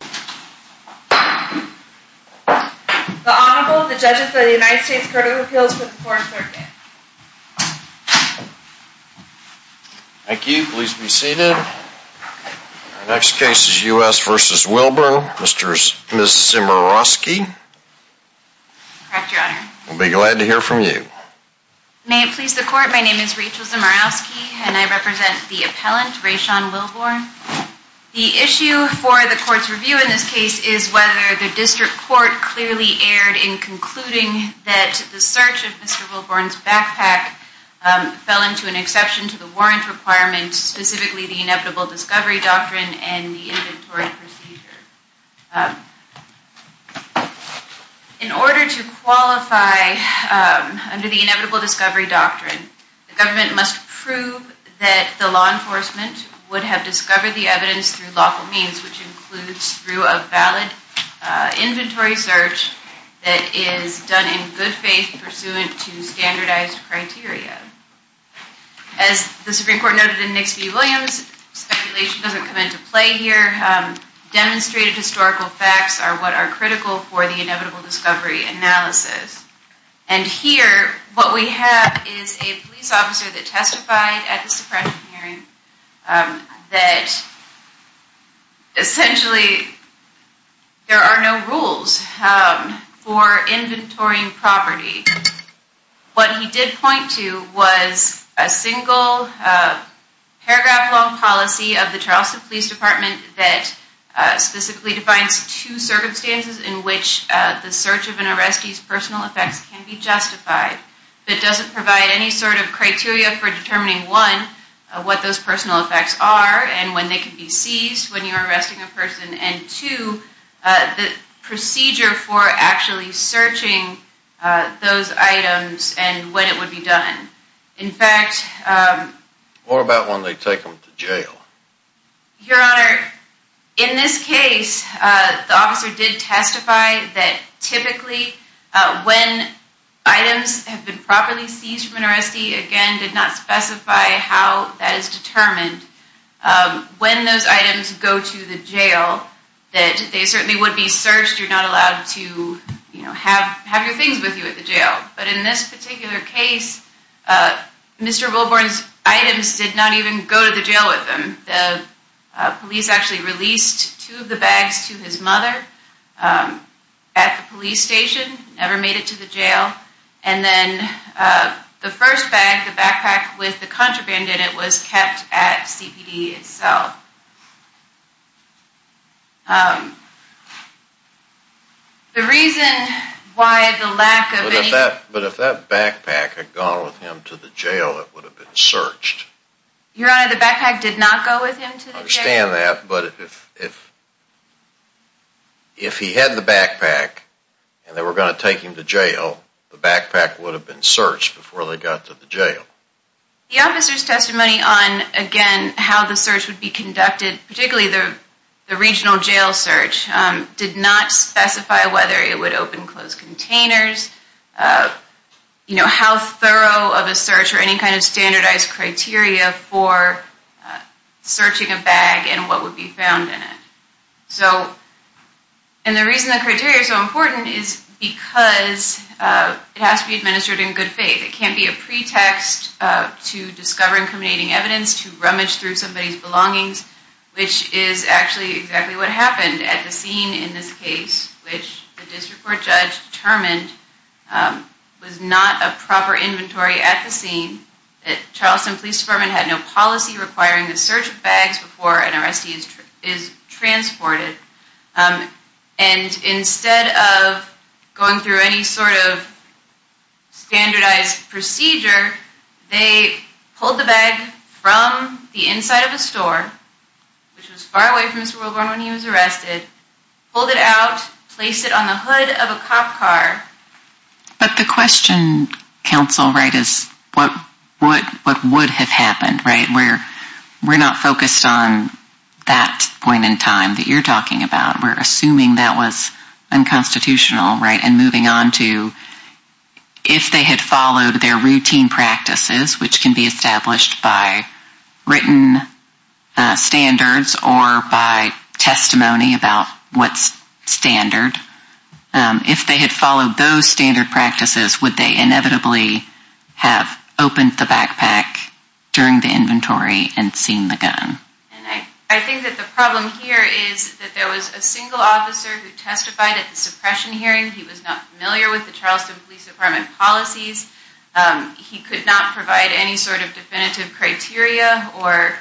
The Honorable, the Judges of the United States Court of Appeals for the Foreign Circuit. Thank you. Please be seated. Our next case is U.S. v. Wilburn. Mr. and Mrs. Zimorowski. Correct, Your Honor. We'll be glad to hear from you. May it please the Court, my name is Rachel Zimorowski and I represent the appellant, Re'Shaun Wilborne. The issue for the Court's review in this case is whether the District Court clearly erred in concluding that the search of Mr. Wilborne's backpack fell into an exception to the warrant requirement, specifically the Inevitable Discovery Doctrine and the Inventory Procedure. In order to qualify under the Inevitable Discovery Doctrine, the government must prove that the law enforcement would have discovered the evidence through lawful means, which includes through a valid inventory search that is done in good faith pursuant to standardized criteria. As the Supreme Court noted in Nixby-Williams, speculation doesn't come into play here. Demonstrated historical facts are what are critical for the Inevitable Discovery analysis. And here, what we have is a police officer that testified at the Supreme Court hearing that essentially there are no rules for inventorying property. What he did point to was a single paragraph-long policy of the Charleston Police Department that specifically defines two circumstances in which the search of an arrestee's personal effects can be justified. It doesn't provide any sort of criteria for determining, one, what those personal effects are and when they can be seized when you're arresting a person, and two, the procedure for actually searching those items and when it would be done. What about when they take them to jail? Your Honor, in this case, the officer did testify that typically when items have been properly seized from an arrestee, again, did not specify how that is determined, when those items go to the jail that they certainly would be searched, you're not allowed to have your things with you at the jail. But in this particular case, Mr. Wilborn's items did not even go to the jail with him. The police actually released two of the bags to his mother at the police station, never made it to the jail, and then the first bag, the backpack with the contraband in it, was kept at CPD itself. The reason why the lack of any... But if that backpack had gone with him to the jail, it would have been searched. Your Honor, the backpack did not go with him to the jail. I understand that, but if he had the backpack and they were going to take him to jail, the backpack would have been searched before they got to the jail. The officer's testimony on, again, how the search would be conducted, particularly the regional jail search, did not specify whether it would open and close containers, how thorough of a search or any kind of standardized criteria for searching a bag and what would be found in it. And the reason the criteria are so important is because it has to be administered in good faith. It can't be a pretext to discover incriminating evidence, to rummage through somebody's belongings, which is actually exactly what happened at the scene in this case, which the district court judge determined was not a proper inventory at the scene. Charleston Police Department had no policy requiring the search of bags before an arrestee is transported. And instead of going through any sort of standardized procedure, they pulled the bag from the inside of a store, which was far away from Mr. Wilborn when he was arrested, pulled it out, placed it on the hood of a cop car. But the question, counsel, right, is what would have happened, right? We're not focused on that point in time that you're talking about. We're assuming that was unconstitutional, right, and moving on to if they had followed their routine practices, which can be established by written standards or by testimony about what's standard, if they had followed those standard practices, would they inevitably have opened the backpack during the inventory and seen the gun? And I think that the problem here is that there was a single officer who testified at the suppression hearing. He was not familiar with the Charleston Police Department policies. He could not provide any sort of definitive criteria or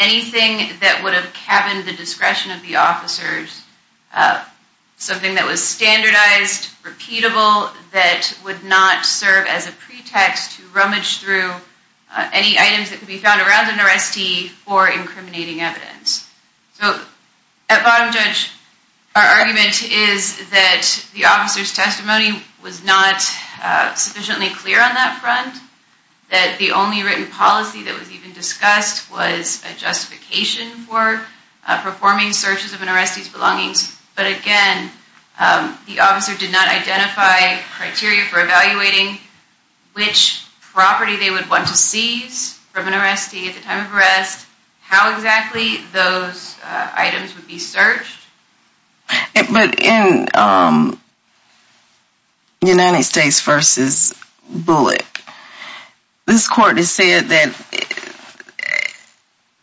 anything that would have cabined the discretion of the officers, something that was standardized, repeatable, that would not serve as a pretext to rummage through any items that could be found around an arrestee for incriminating evidence. So at bottom judge, our argument is that the officer's testimony was not sufficiently clear on that front, that the only written policy that was even discussed was a justification for performing searches of an arrestee's belongings. Which property they would want to seize from an arrestee at the time of arrest, how exactly those items would be searched. But in United States v. Bullock, this court has said that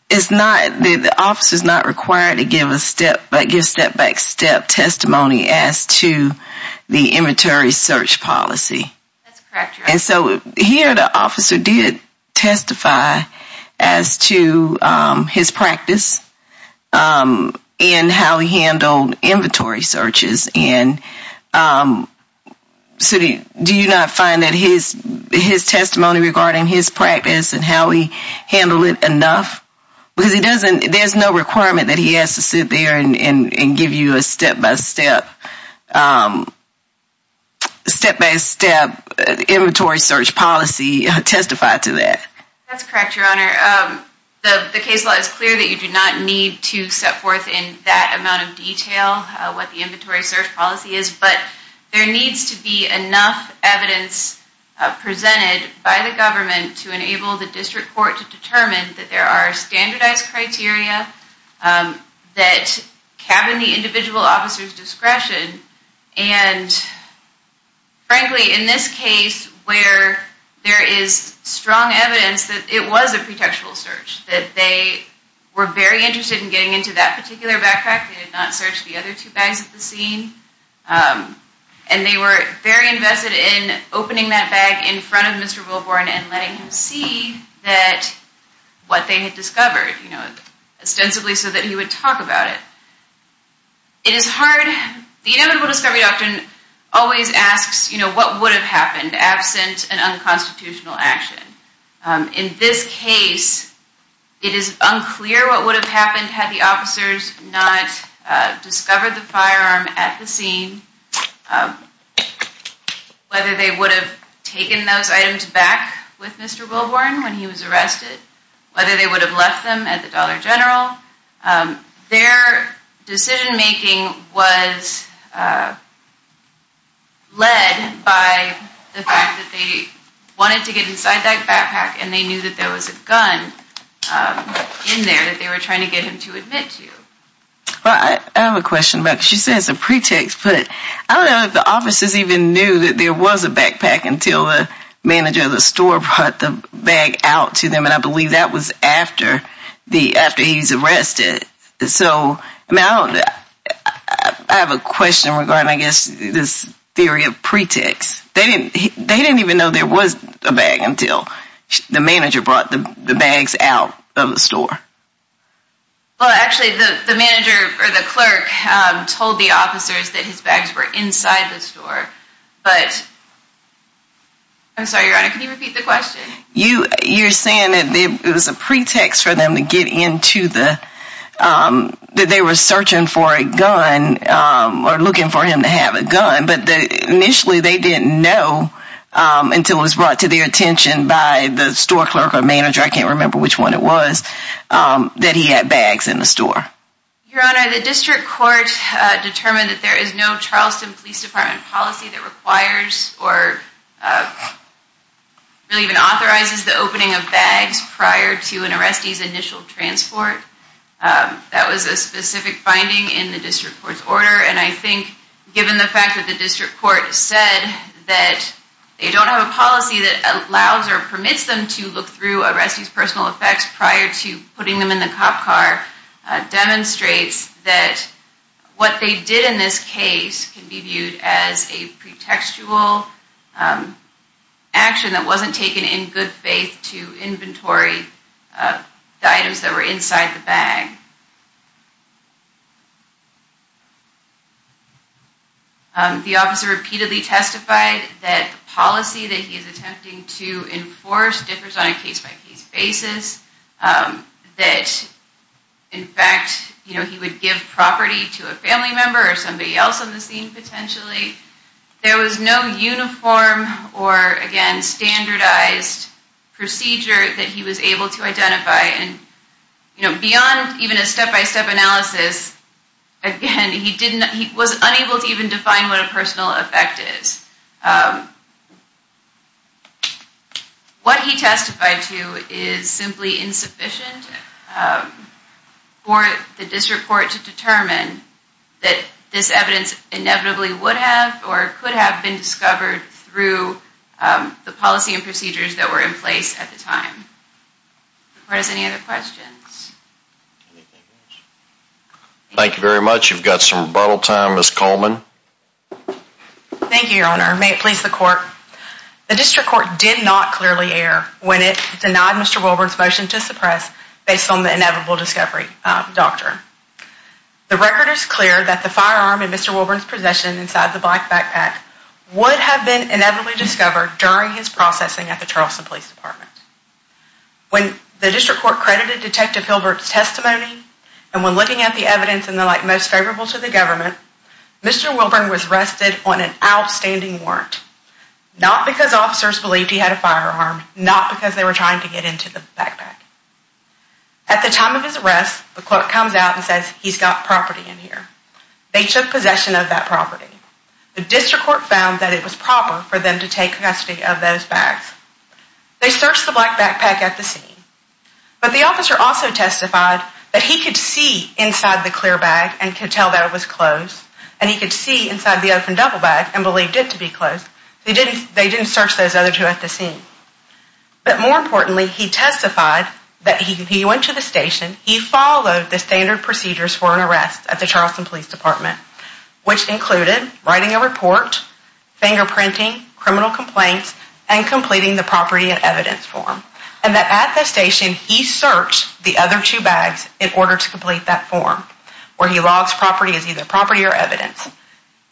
the officer's not required to give a step-back testimony as to the inventory search policy. And so here the officer did testify as to his practice and how he handled inventory searches. And do you not find that his testimony regarding his practice and how he handled it enough? Because there's no requirement that he has to sit there and give you a step-by-step inventory search policy testified to that. That's correct, Your Honor. The case law is clear that you do not need to set forth in that amount of detail what the inventory search policy is, but there needs to be enough evidence presented by the government to enable the district court to determine that there are standardized criteria that cabin the individual officer's discretion. And frankly, in this case, where there is strong evidence that it was a pretextual search, that they were very interested in getting into that particular backpack. They did not search the other two bags at the scene. And they were very invested in opening that bag in front of Mr. Wilborn and letting him see what they had discovered. You know, ostensibly so that he would talk about it. It is hard. The inevitable discovery doctrine always asks, you know, what would have happened absent an unconstitutional action? In this case, it is unclear what would have happened had the officers not discovered the firearm at the scene, whether they would have taken those items back with Mr. Wilborn when he was arrested, whether they would have left them at the Dollar General. Their decision-making was led by the fact that they wanted to get inside that backpack and they knew that there was a gun in there that they were trying to get him to admit to. I have a question about this. You said it's a pretext, but I don't know if the officers even knew that there was a backpack until the manager of the store brought the bag out to them. And I believe that was after he was arrested. So I have a question regarding, I guess, this theory of pretext. They didn't even know there was a bag until the manager brought the bags out of the store. Well, actually, the manager or the clerk told the officers that his bags were inside the store. But I'm sorry, Your Honor, can you repeat the question? You're saying that it was a pretext for them to get into the, that they were searching for a gun or looking for him to have a gun, but initially they didn't know until it was brought to their attention by the store clerk or manager, I can't remember which one it was, that he had bags in the store. Your Honor, the district court determined that there is no Charleston Police Department policy that requires or really even authorizes the opening of bags prior to an arrestee's initial transport. That was a specific finding in the district court's order, and I think given the fact that the district court said that they don't have a policy that allows or permits them to look through arrestees' personal effects prior to putting them in the cop car, demonstrates that what they did in this case can be viewed as a pretextual action that wasn't taken in good faith to inventory the items that were inside the bag. The officer repeatedly testified that the policy that he is attempting to enforce differs on a case-by-case basis, that in fact, you know, he would give property to a family member or somebody else on the scene potentially. There was no uniform or, again, standardized procedure that he was able to identify, and, you know, beyond even a step-by-step analysis, again, he was unable to even define what a personal effect is. What he testified to is simply insufficient for the district court to determine that this evidence inevitably would have or could have been discovered through the policy and procedures that were in place at the time. Do we have any other questions? Thank you very much. You've got some rebuttal time, Ms. Coleman. Thank you, Your Honor. May it please the court. The district court did not clearly err when it denied Mr. Wilburn's motion to suppress based on the inevitable discovery doctrine. The record is clear that the firearm in Mr. Wilburn's possession inside the black backpack would have been inevitably discovered during his processing at the Charleston Police Department. When the district court credited Detective Hilbert's testimony and when looking at the evidence in the light most favorable to the government, Mr. Wilburn was arrested on an outstanding warrant, not because officers believed he had a firearm, not because they were trying to get into the backpack. At the time of his arrest, the court comes out and says, he's got property in here. They took possession of that property. The district court found that it was proper for them to take custody of those bags. They searched the black backpack at the scene, but the officer also testified that he could see inside the clear bag and could tell that it was closed, and he could see inside the open double bag and believed it to be closed. They didn't search those other two at the scene. But more importantly, he testified that he went to the station, he followed the standard procedures for an arrest at the Charleston Police Department, which included writing a report, fingerprinting, criminal complaints, and completing the property and evidence form, and that at the station he searched the other two bags in order to complete that form where he logs property as either property or evidence.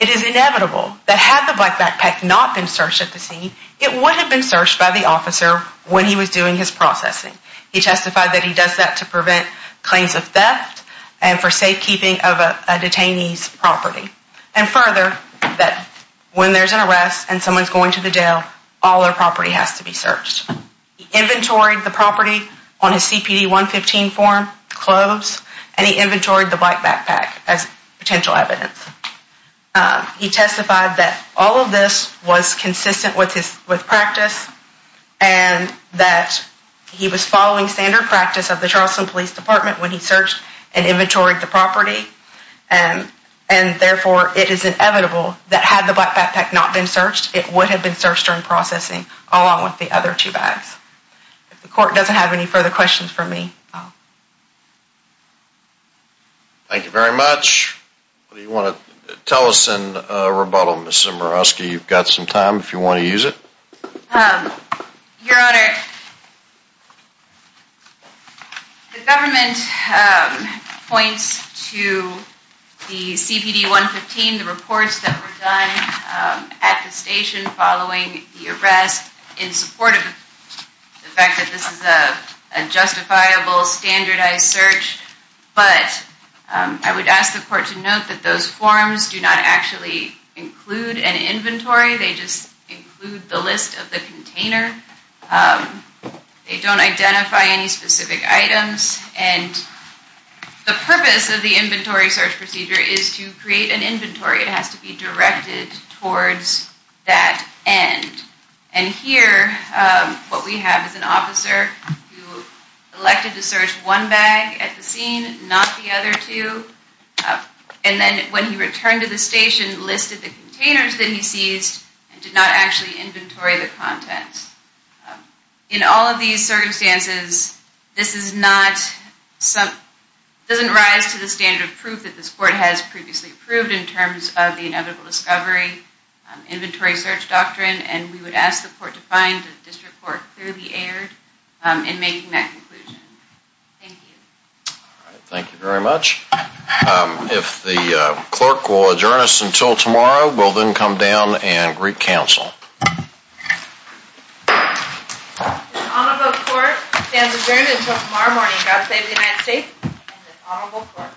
It is inevitable that had the black backpack not been searched at the scene, it would have been searched by the officer when he was doing his processing. He testified that he does that to prevent claims of theft and for safekeeping of a detainee's property. And further, that when there's an arrest and someone's going to the jail, all their property has to be searched. He inventoried the property on his CPD 115 form, closed, and he inventoried the black backpack as potential evidence. He testified that all of this was consistent with practice and that he was following standard practice of the Charleston Police Department when he searched and inventoried the property, and therefore it is inevitable that had the black backpack not been searched, it would have been searched during processing along with the other two bags. If the court doesn't have any further questions for me, I'll... Thank you very much. What do you want to tell us in rebuttal, Ms. Zemirowski? You've got some time if you want to use it. Your Honor, the government points to the CPD 115, the reports that were done at the station following the arrest in support of the fact that this is a justifiable standardized search, but I would ask the court to note that those forms do not actually include an inventory. They just include the list of the container. They don't identify any specific items. And the purpose of the inventory search procedure is to create an inventory. It has to be directed towards that end. And here, what we have is an officer who elected to search one bag at the scene, not the other two, and then when he returned to the station, listed the containers that he seized and did not actually inventory the contents. In all of these circumstances, this is not... doesn't rise to the standard of proof that this court has previously approved in terms of the inevitable discovery inventory search doctrine, and we would ask the court to find that this report clearly aired in making that conclusion. Thank you. All right, thank you very much. If the clerk will adjourn us until tomorrow, we'll then come down and greet counsel. This honorable court stands adjourned until tomorrow morning. God save the United States and this honorable court.